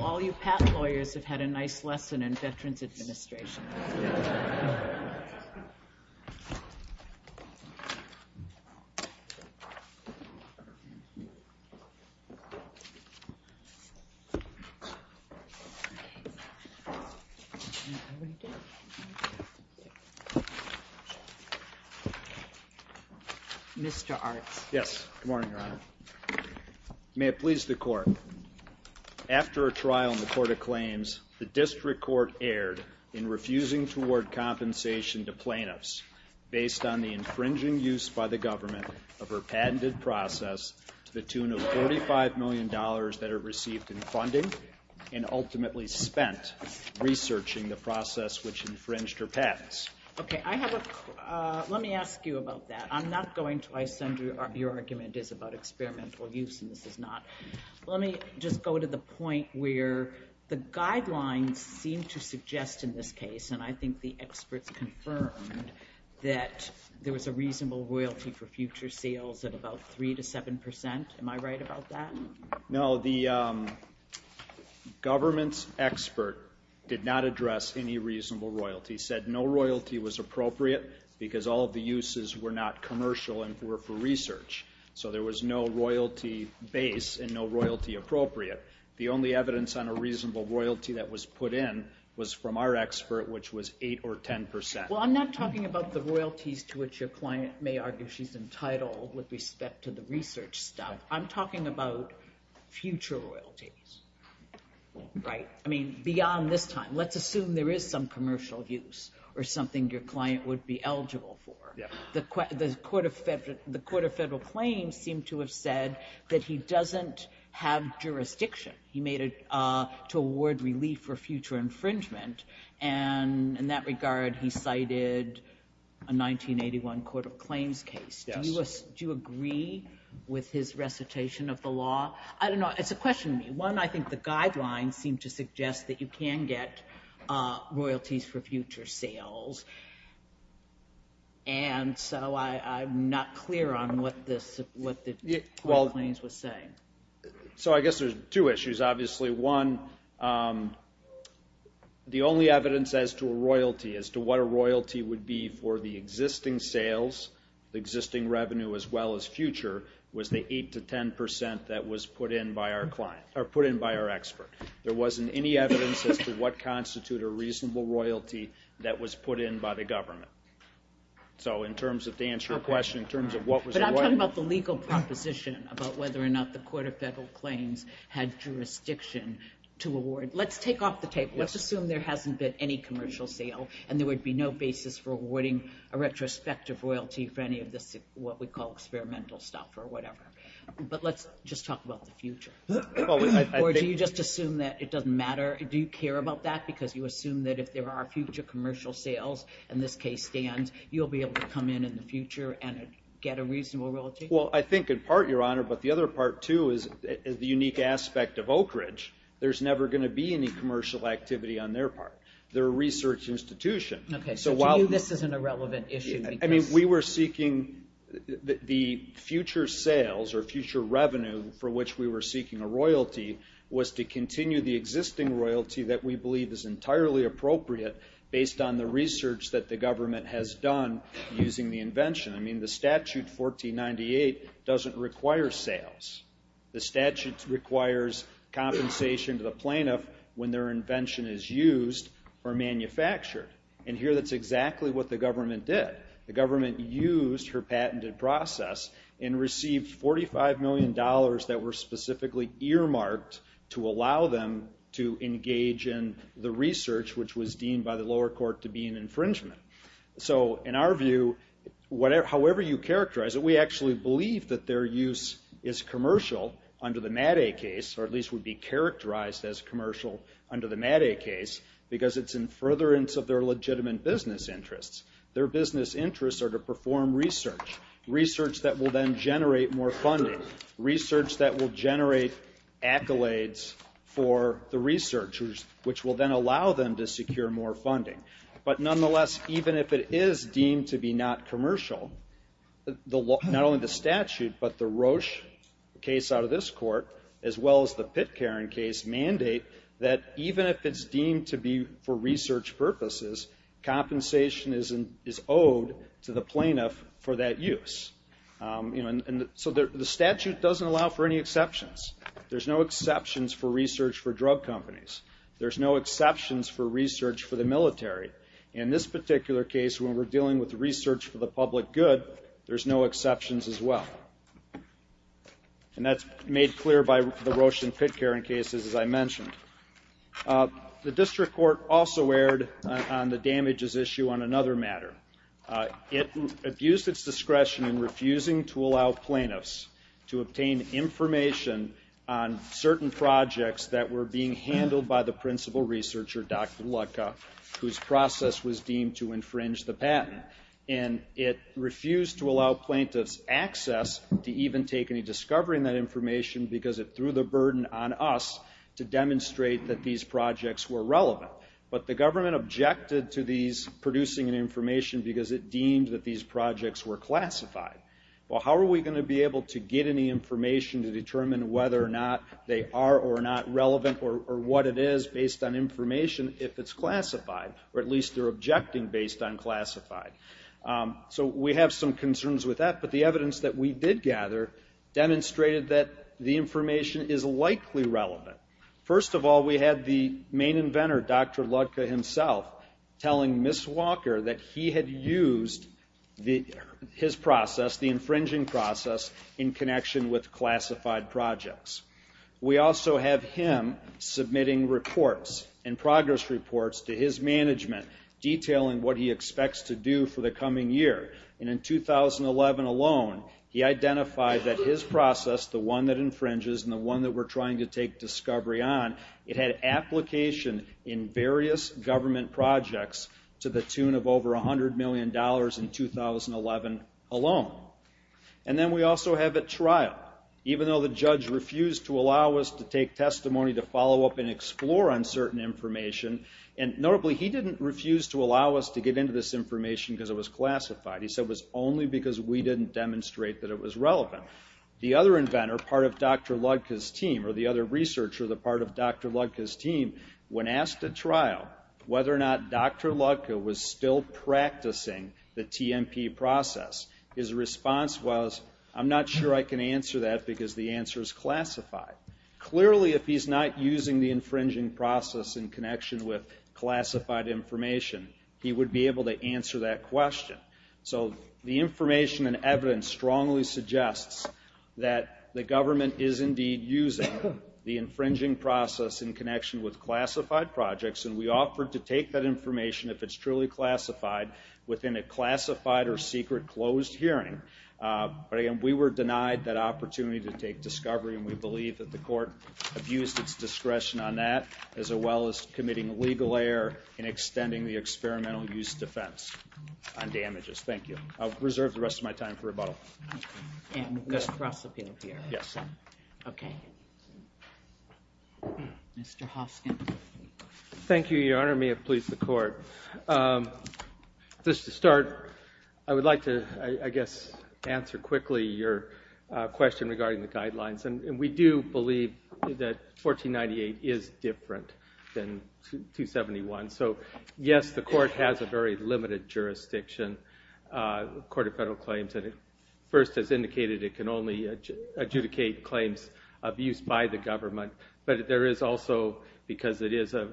All you patent lawyers have had a nice lesson in Veterans Administration. May it please the Court, after a trial in the Court of Claims, the District Court erred in refusing to award compensation to plaintiffs based on the infringing use by the government of her patented process to the tune of $45 million that it received in funding and ultimately spent researching the process which infringed her patents. Okay, I have a, let me ask you about that. I'm not going to, I assume your argument is about experimental use and this is not. Let me just go to the point where the guidelines seem to suggest in this case, and I think the experts confirmed, that there was a reasonable royalty for future sales of about 3 to 7%. Am I right about that? No, the government's expert did not address any reasonable royalty, said no royalty was appropriate because all of the uses were not commercial and were for research. So there was no royalty base and no royalty appropriate. The only evidence on a reasonable royalty that was put in was from our expert which was 8 or 10%. Well, I'm not talking about the royalties to which your client may argue she's entitled with respect to the research stuff. I'm talking about future royalties, right? I mean, beyond this time, let's assume there is some commercial use or something your client would be eligible for. The Court of Federal Claims seemed to have said that he doesn't have jurisdiction. He made it to award relief for future infringement and in that regard, he cited a 1981 Court of Claims case. Yes. Do you agree with his recitation of the law? I don't know. It's a question to me. One, I think the guidelines seem to suggest that you can get royalties for future sales and so I'm not clear on what the Court of Claims was saying. So I guess there's two issues, obviously, one, the only evidence as to a royalty, as to what a royalty would be for the existing sales, the existing revenue as well as future was the 8 to 10% that was put in by our client, or put in by our expert. There wasn't any evidence as to what constitute a reasonable royalty that was put in by the government. So in terms of to answer your question in terms of what was the royalty. What about the legal proposition about whether or not the Court of Federal Claims had jurisdiction to award? Let's take off the tape. Let's assume there hasn't been any commercial sale and there would be no basis for awarding a retrospective royalty for any of this, what we call experimental stuff or whatever. But let's just talk about the future or do you just assume that it doesn't matter? Do you care about that? Because you assume that if there are future commercial sales and this case stands, you'll be able to come in in the future and get a reasonable royalty? Well, I think in part, Your Honor, but the other part too is the unique aspect of Oakridge. There's never going to be any commercial activity on their part. They're a research institution. Okay. So to you, this isn't a relevant issue. I mean, we were seeking the future sales or future revenue for which we were seeking a royalty was to continue the existing royalty that we believe is entirely appropriate based on the research that the government has done using the invention. I mean, the statute 1498 doesn't require sales. The statute requires compensation to the plaintiff when their invention is used or manufactured. And here, that's exactly what the government did. The government used her patented process and received $45 million that were specifically earmarked to allow them to engage in the research which was deemed by the lower court to be an infringement. So in our view, however you characterize it, we actually believe that their use is commercial under the MATA case or at least would be characterized as commercial under the MATA case because it's in furtherance of their legitimate business interests. Their business interests are to perform research, research that will then generate more funding, research that will generate accolades for the researchers which will then allow them to secure more funding. But nonetheless, even if it is deemed to be not commercial, not only the statute but the Roche case out of this court as well as the Pitcairn case mandate that even if it's deemed to be for research purposes, compensation is owed to the plaintiff for that use. And so the statute doesn't allow for any exceptions. There's no exceptions for research for drug companies. There's no exceptions for research for the military. In this particular case, when we're dealing with research for the public good, there's no exceptions as well. And that's made clear by the Roche and Pitcairn cases as I mentioned. The district court also erred on the damages issue on another matter. It abused its discretion in refusing to allow plaintiffs to obtain information on certain projects that were being handled by the principal researcher, Dr. Lucca, whose process was deemed to infringe the patent. And it refused to allow plaintiffs access to even take any discovery in that information because it threw the burden on us to demonstrate that these projects were relevant. But the government objected to these producing information because it deemed that these projects were classified. Well, how are we going to be able to get any information to determine whether or not they are or are not relevant or what it is based on information if it's classified, or at least they're objecting based on classified? So we have some concerns with that, but the evidence that we did gather demonstrated that the information is likely relevant. First of all, we had the main inventor, Dr. Lucca himself, telling Ms. Walker that he had used his process, the infringing process, in connection with classified projects. We also have him submitting reports and progress reports to his management detailing what he expects to do for the coming year. And in 2011 alone, he identified that his process, the one that infringes and the one that we're trying to take discovery on, it had application in various government projects to the tune of over $100 million in 2011 alone. And then we also have at trial, even though the judge refused to allow us to take testimony to follow up and explore on certain information, and notably, he didn't refuse to allow us to get into this information because it was classified. He said it was only because we didn't demonstrate that it was relevant. The other inventor, part of Dr. Lucca's team, or the other researcher, the part of Dr. Lucca's team, when asked at trial whether or not Dr. Lucca was still practicing the TMP process, his response was, I'm not sure I can answer that because the answer is classified. Clearly if he's not using the infringing process in connection with classified information, he would be able to answer that question. So the information and evidence strongly suggests that the government is indeed using the infringing process in connection with classified projects, and we offer to take that information if it's truly classified within a classified or secret closed hearing. We were denied that opportunity to take discovery, and we believe that the court abused its discretion on that, as well as committing legal error in extending the experimental use defense on damages. Thank you. I'll reserve the rest of my time for rebuttal. And just cross-appeal here. Yes. Okay. Mr. Hoskin. Thank you, Your Honor. May it please the court. Just to start, I would like to, I guess, answer quickly your question regarding the guidelines, and we do believe that 1498 is different than 271. So yes, the court has a very limited jurisdiction, the Court of Federal Claims, and it first has indicated it can only adjudicate claims of use by the government, but there is also, because it is a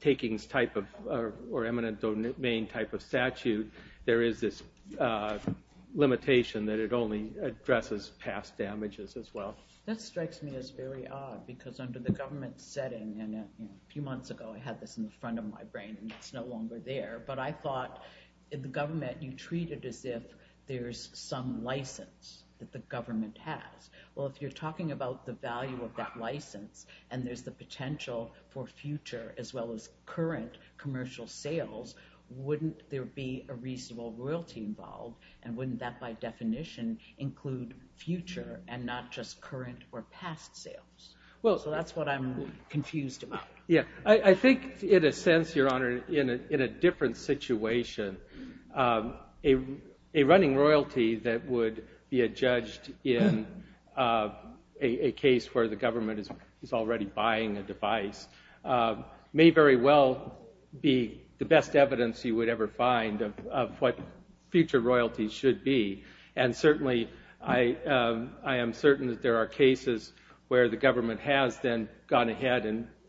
takings type of, or eminent domain type of statute, there is this limitation that it only addresses past damages as well. That strikes me as very odd, because under the government setting, and a few months ago I had this in the front of my brain, and it's no longer there, but I thought in the government you treat it as if there's some license that the government has. Well, if you're talking about the value of that license, and there's the potential for future as well as current commercial sales, wouldn't there be a reasonable royalty involved, and wouldn't that, by definition, include future and not just current or past sales? So that's what I'm confused about. I think, in a sense, Your Honor, in a different situation, a running royalty that would be adjudged in a case where the government is already buying a device may very well be the future royalty should be, and certainly I am certain that there are cases where the government has then gone ahead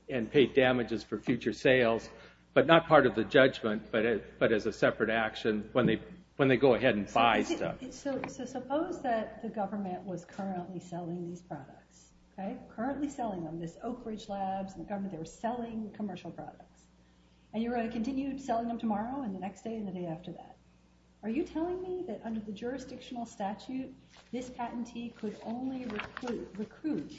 and paid damages for future sales, but not part of the judgment, but as a separate action when they go ahead and buy stuff. So suppose that the government was currently selling these products, currently selling them, this Oak Ridge Labs, and the government, they were selling commercial products, and you were going to continue selling them tomorrow, and the next day, and the day after that. Are you telling me that under the jurisdictional statute, this patentee could only recruit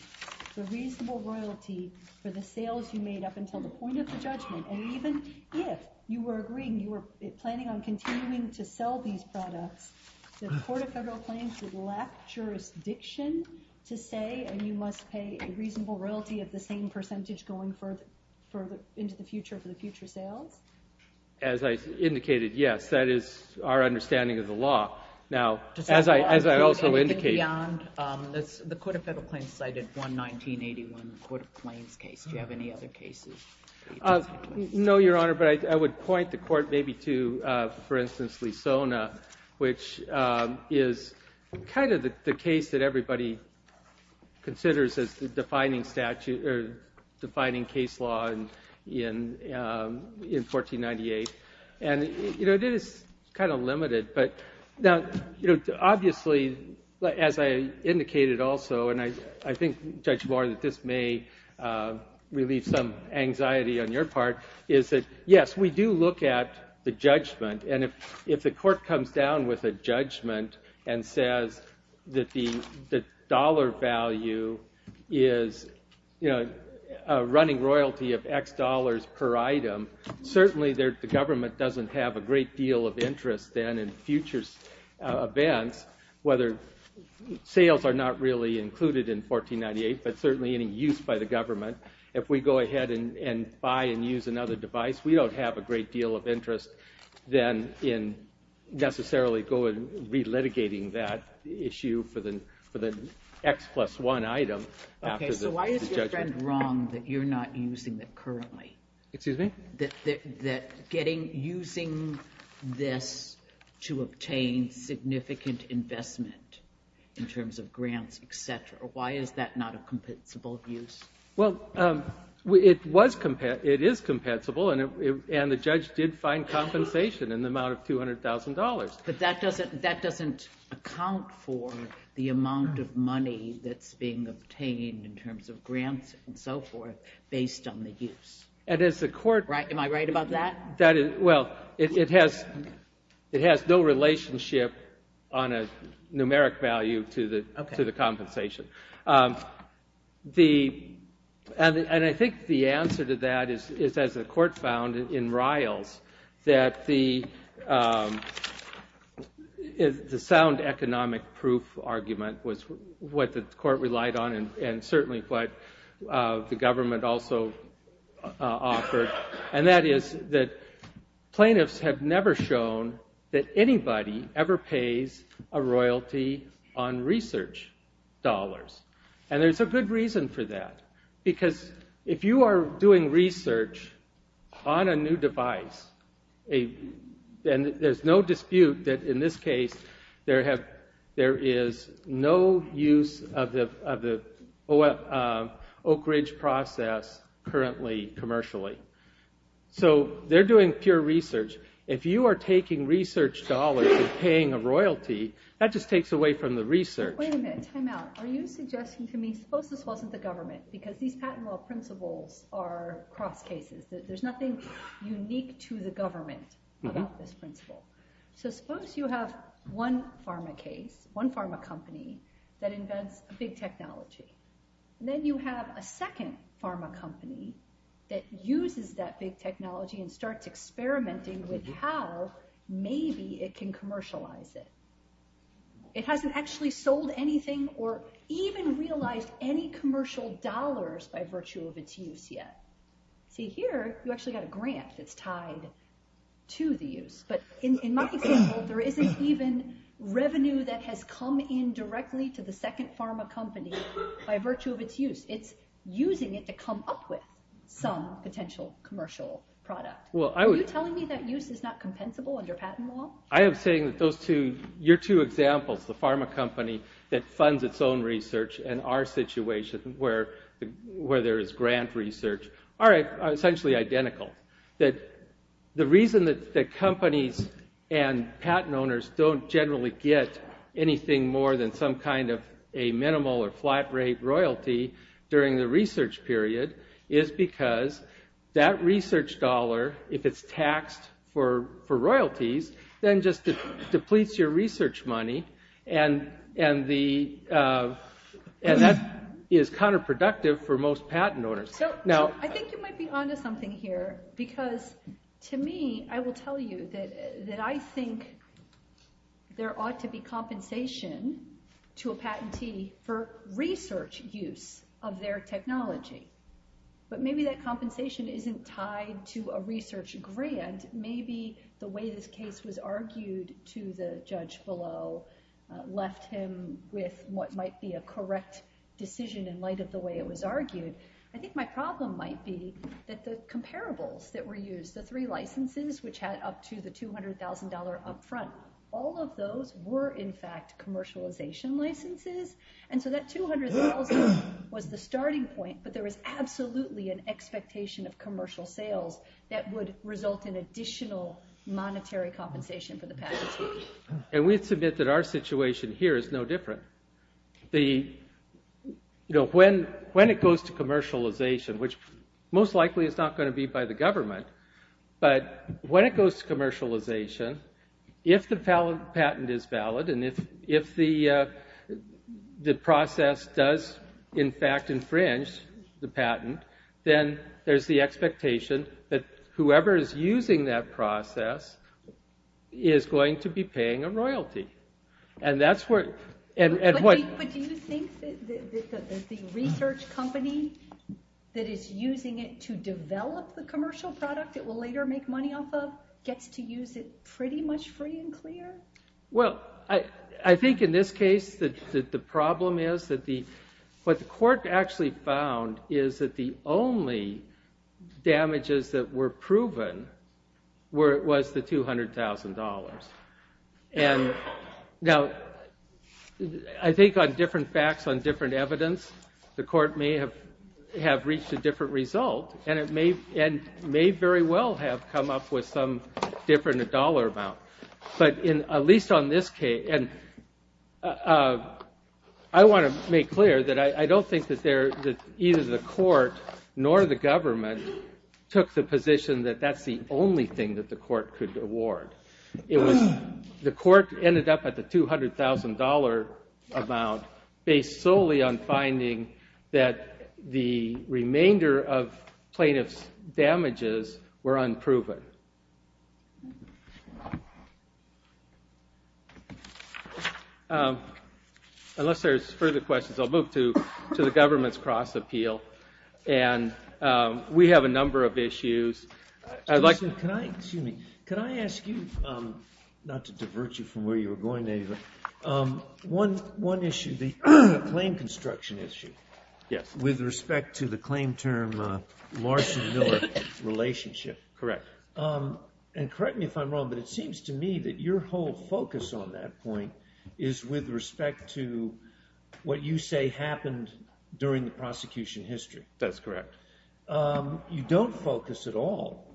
the reasonable royalty for the sales you made up until the point of the judgment, and even if you were agreeing, you were planning on continuing to sell these products, the Court of Federal Plans would lack jurisdiction to say, and you must pay a reasonable royalty of the same percentage going into the future for the future sales? As I indicated, yes, that is our understanding of the law. Now, as I also indicated- Anything beyond the Court of Federal Claims cited one 1981 Court of Claims case, do you have any other cases? No, Your Honor, but I would point the Court maybe to, for instance, Lisona, which is kind of the case that everybody considers as defining case law in 1498, and it is kind of limited, but now, obviously, as I indicated also, and I think, Judge Moore, that this may relieve some anxiety on your part, is that, yes, we do look at the judgment, and if the court comes down with a judgment and says that the dollar value is running royalty of X dollars per item, certainly the government doesn't have a great deal of interest then in future events, whether sales are not really included in 1498, but certainly any use by the government, if we go ahead and buy and use another device, we don't have a great deal of interest then in necessarily going and re-litigating that issue for the X plus one item after the judgment. Okay, so why is your friend wrong that you're not using that currently? Excuse me? That getting, using this to obtain significant investment in terms of grants, et cetera, why is that not a compensable use? Well, it was, it is compensable, and the judge did find compensation in the amount of $200,000. But that doesn't account for the amount of money that's being obtained in terms of grants and so forth based on the use. And as the court- Am I right about that? Well, it has no relationship on a numeric value to the compensation. And I think the answer to that is, as the court found in Riles, that the sound economic proof argument was what the court relied on and certainly what the government also offered. And that is that plaintiffs have never shown that anybody ever pays a royalty on research dollars. And there's a good reason for that. Because if you are doing research on a new device, then there's no dispute that in this case, there is no use of the Oak Ridge process currently commercially. So they're doing pure research. If you are taking research dollars and paying a royalty, that just takes away from the research. Wait a minute, time out. Are you suggesting to me, suppose this wasn't the government? Because these patent law principles are cross cases. There's nothing unique to the government about this principle. So suppose you have one pharma case, one pharma company, that invents a big technology. Then you have a second pharma company that uses that big technology and starts experimenting with how maybe it can commercialize it. It hasn't actually sold anything or even realized any commercial dollars by virtue of its use yet. See here, you actually got a grant that's tied to the use. But in my example, there isn't even revenue that has come in directly to the second pharma company by virtue of its use. It's using it to come up with some potential commercial product. Are you telling me that use is not compensable under patent law? I am saying that those two, your two examples, the pharma company that funds its own research, and our situation where there is grant research, are essentially identical. The reason that companies and patent owners don't generally get anything more than some kind of a minimal or flat rate royalty during the research period is because that research dollar, if it's taxed for royalties, then just depletes your research money. And that is counterproductive for most patent owners. I think you might be onto something here because to me, I will tell you that I think there ought to be compensation to a patentee for research use of their technology. But maybe that compensation isn't tied to a research grant. And maybe the way this case was argued to the judge below left him with what might be a correct decision in light of the way it was argued. I think my problem might be that the comparables that were used, the three licenses which had up to the $200,000 upfront, all of those were in fact commercialization licenses. And so that $200,000 was the starting point, but there was absolutely an expectation of commercial sales that would result in additional monetary compensation for the patentee. And we submit that our situation here is no different. When it goes to commercialization, which most likely is not going to be by the government, but when it goes to commercialization, if the patent is valid and if the process does, in fact, whoever is using that process is going to be paying a royalty. And that's where... But do you think that the research company that is using it to develop the commercial product it will later make money off of gets to use it pretty much free and clear? Well, I think in this case that the problem is that what the court actually found is that the only damages that were proven was the $200,000. And now, I think on different facts, on different evidence, the court may have reached a different result, and it may very well have come up with some different dollar amount. But at least on this case... I want to make clear that I don't think that either the court nor the government took the position that that's the only thing that the court could award. The court ended up at the $200,000 amount based solely on finding that the remainder of plaintiff's damages were unproven. Unless there's further questions, I'll move to the government's cross-appeal. And we have a number of issues. Excuse me, could I ask you, not to divert you from where you were going, one issue, the claim construction issue. Yes. With respect to the claim term Marshall-Miller relationship. Correct. And correct me if I'm wrong, but it seems to me that your whole focus on that point is with respect to what you say happened during the prosecution history. That's correct. You don't focus at all,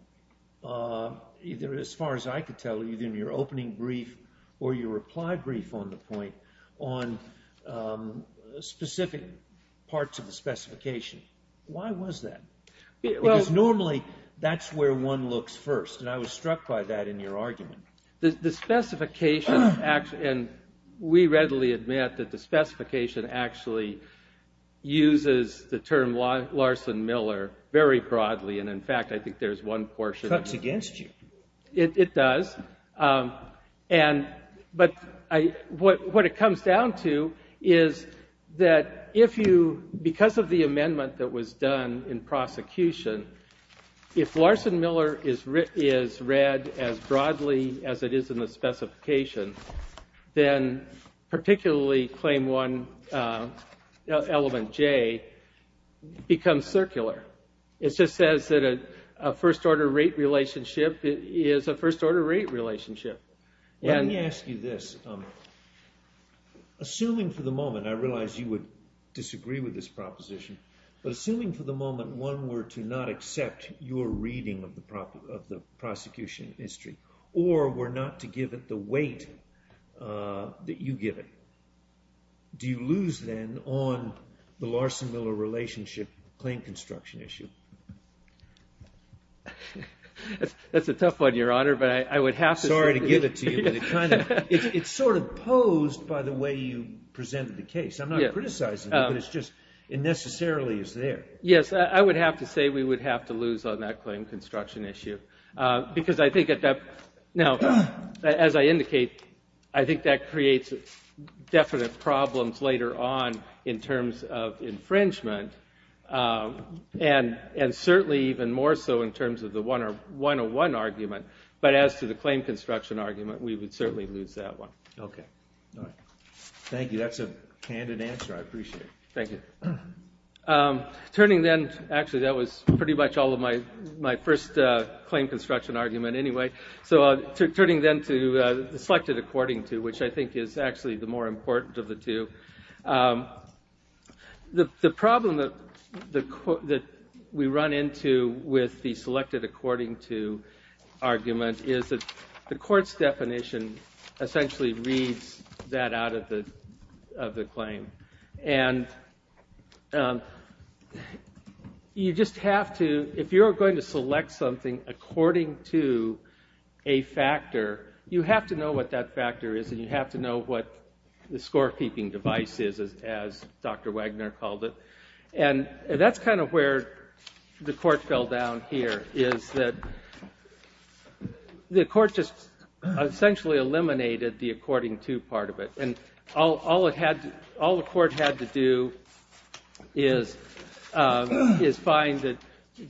either as far as I could tell, either in your opening brief or your reply brief on the point, on specific parts of the specification. Why was that? Because normally that's where one looks first, and I was struck by that in your argument. The specification, and we readily admit that the specification actually uses the term Larson-Miller very broadly, and in fact I think there's one portion... It cuts against you. It does. But what it comes down to is that if you, because of the amendment that was done in prosecution, if Larson-Miller is read as broadly as it is in the specification, then particularly claim one, element J, becomes circular. It just says that a first-order rate relationship is a first-order rate relationship. Let me ask you this. Assuming for the moment, I realize you would disagree with this proposition, but assuming for the moment one were to not accept your reading of the prosecution history, or were not to give it the weight that you give it, do you lose then on the Larson-Miller relationship claim construction issue? That's a tough one, Your Honor, but I would have to say... Sorry to give it to you, but it kind of... It's sort of posed by the way you presented the case. I'm not criticizing it, but it's just... It necessarily is there. Yes, I would have to say we would have to lose on that claim construction issue, because I think that... Now, as I indicate, I think that creates definite problems later on in terms of infringement, and certainly even more so in terms of the 101 argument. But as to the claim construction argument, we would certainly lose that one. Okay. All right. Thank you. That's a candid answer. I appreciate it. Thank you. Turning then... Actually, that was pretty much all of my first claim construction argument anyway. So turning then to the selected according to, which I think is actually the more important of the two. with the selected according to argument is that the court's definition essentially reads that out of the claim. And... You just have to... If you're going to select something according to a factor, you have to know what that factor is, and you have to know what the scorekeeping device is, as Dr. Wagner called it. And that's kind of where the court fell down here, is that... The court just essentially eliminated the according to part of it. And all it had... All the court had to do is... is find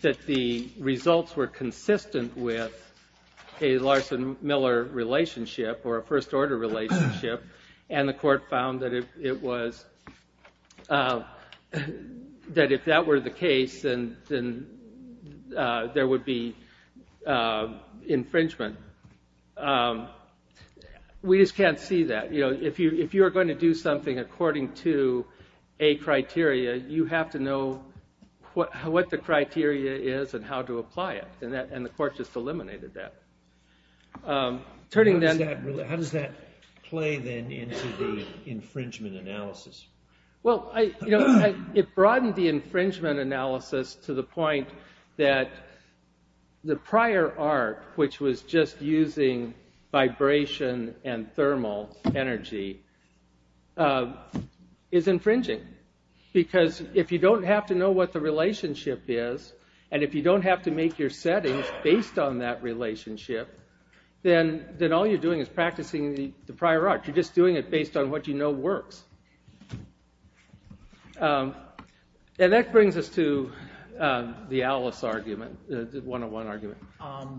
that the results were consistent with a Larson-Miller relationship or a first-order relationship, and the court found that it was... that if that were the case, then there would be infringement. We just can't see that. If you're going to do something according to a criteria, you have to know what the criteria is and how to apply it, and the court just eliminated that. Turning down... How does that play, then, into the infringement analysis? Well, it broadened the infringement analysis to the point that the prior art, which was just using vibration and thermal energy, is infringing. Because if you don't have to know what the relationship is, and if you don't have to make your settings based on that relationship, then all you're doing is practicing the prior art. You're just doing it based on what you know works. And that brings us to the Alice argument. The one-on-one argument.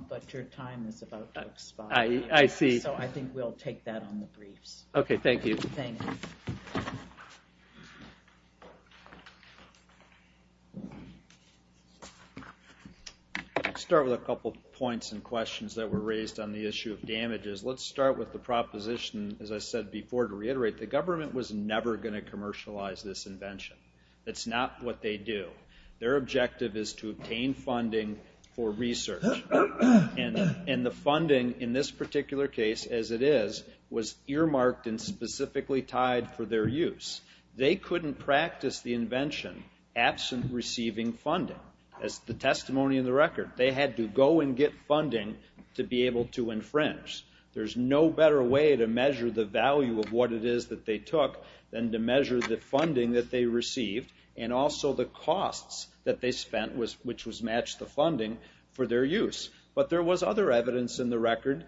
But your time is about to expire. I see. So I think we'll take that on the briefs. Okay, thank you. I'll start with a couple points and questions that were raised on the issue of damages. Let's start with the proposition, as I said before, to reiterate. The government was never going to commercialize this invention. That's not what they do. Their objective is to obtain funding for research. And the funding in this particular case, as it is, was earmarked and specifically tied for their use. They couldn't practice the invention absent receiving funding. That's the testimony of the record. They had to go and get funding to be able to infringe. There's no better way to measure the value of what it is that they took than to measure the funding that they received and also the costs that they spent, which was match the funding, for their use. But there was other evidence in the record.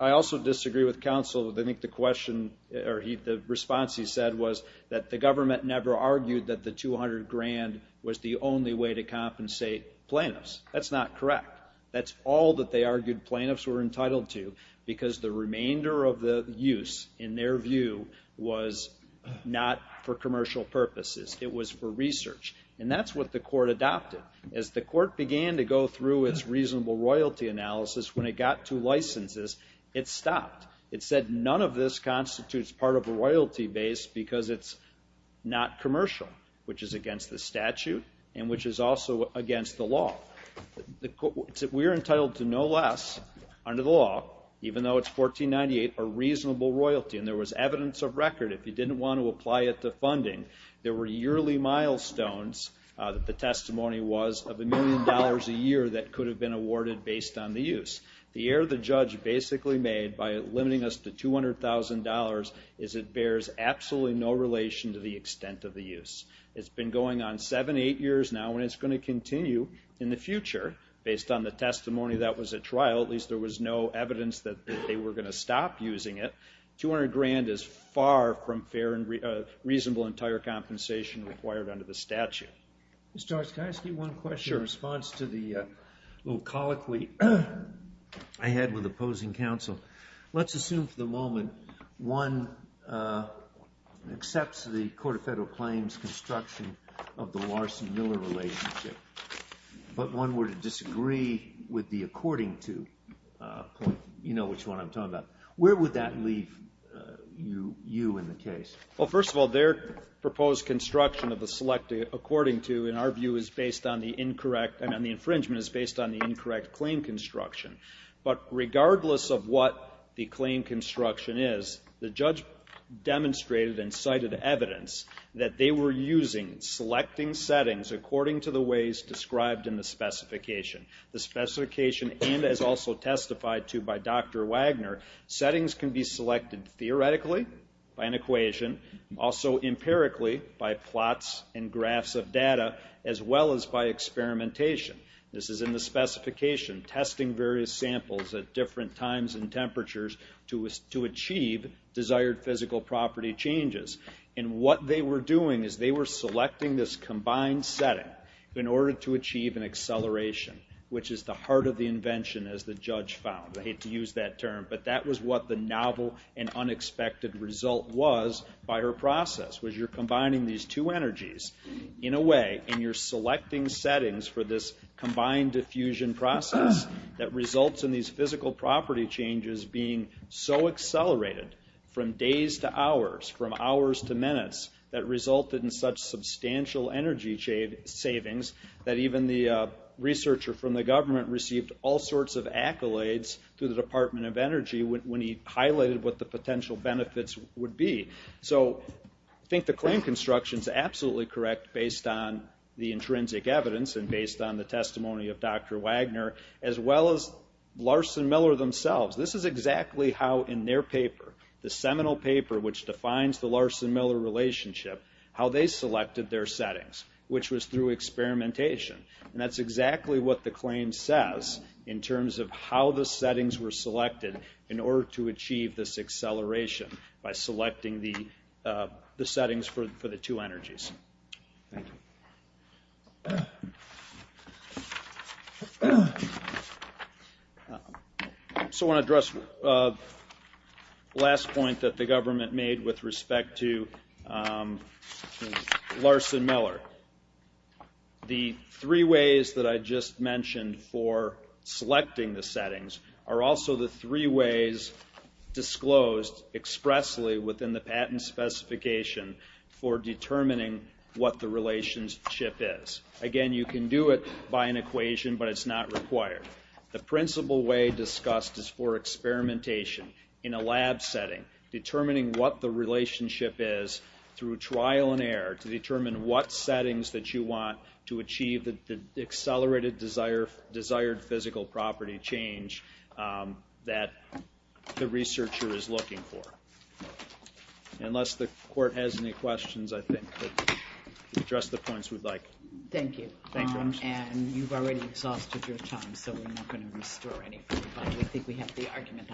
I also disagree with counsel. I think the question or the response he said was that the government never argued that the $200,000 was the only way to compensate plaintiffs. That's not correct. That's all that they argued plaintiffs were entitled to because the remainder of the use in their view was not for commercial purposes. It was for research. And that's what the court adopted. As the court began to go through its reasonable royalty analysis, when it got to licenses, it stopped. It said none of this constitutes part of a royalty base because it's not commercial, which is against the statute and which is also against the law. We're entitled to no less under the law, even though it's 1498, a reasonable royalty. And there was evidence of record. If you didn't want to apply it to funding, there were yearly milestones that the testimony was of a million dollars a year that could have been awarded based on the use. The error the judge basically made by limiting us to $200,000 is it bears absolutely no relation to the extent of the use. It's been going on seven, eight years now and it's going to continue in the future based on the testimony that was at trial. At least there was no evidence that they were going to stop using it. $200,000 is far from a reasonable entire compensation required under the statute. Judge, can I ask you one question in response to the little colloquy I had with opposing counsel? Let's assume for the moment one accepts the Court of Federal Claims construction of the Larson-Miller relationship, but one were to disagree with the according to point. You know which one I'm talking about. Where would that leave you in the case? Well, first of all, their proposed construction of the selecting according to, in our view, is based on the incorrect, and the infringement is based on the incorrect claim construction. But regardless of what the claim construction is, the judge demonstrated and cited evidence that they were using selecting settings according to the ways described in the specification. The specification, and as also testified to by Dr. Wagner, settings can be selected theoretically, by an equation, also empirically, by plots and graphs of data, as well as by experimentation. This is in the specification, testing various samples at different times and temperatures to achieve desired physical property changes. And what they were doing is they were selecting this to achieve an acceleration, which is the heart of the invention, as the judge found. I hate to use that term, but that was what the novel and unexpected result was by her process, was you're combining these two energies in a way, and you're selecting settings for this combined diffusion process that results in these physical property changes being so accelerated from days to hours, from hours to minutes, that resulted in such substantial energy savings that even the researcher from the government received all sorts of accolades through the Department of Energy when he highlighted what the potential benefits would be. I think the claim construction is absolutely correct based on the intrinsic evidence and based on the testimony of Dr. Wagner, as well as Larson-Miller themselves. This is exactly how in their paper, the seminal paper which defines the Larson-Miller relationship, how they selected their settings, which was through experimentation. That's exactly what the claim says in terms of how the settings were selected in order to achieve this acceleration by selecting the settings for the two energies. Thank you. I want to address the last point that the government made with respect to Larson-Miller. The three ways that I just mentioned for selecting the settings are also the three ways disclosed expressly within the patent specification for determining what the relationship is. Again, you can do it by an equation, but it's not required. The principal way discussed is for experimentation in a lab setting, determining what the relationship is through trial and error to determine what settings that you want to achieve the accelerated desired physical property change that the researcher is looking for. Unless the court has any questions, I think we've addressed the points we'd like. Thank you. You've already exhausted your time, so we're not going to restore any. I think we have the argument.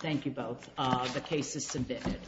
Thank you both. The case is submitted.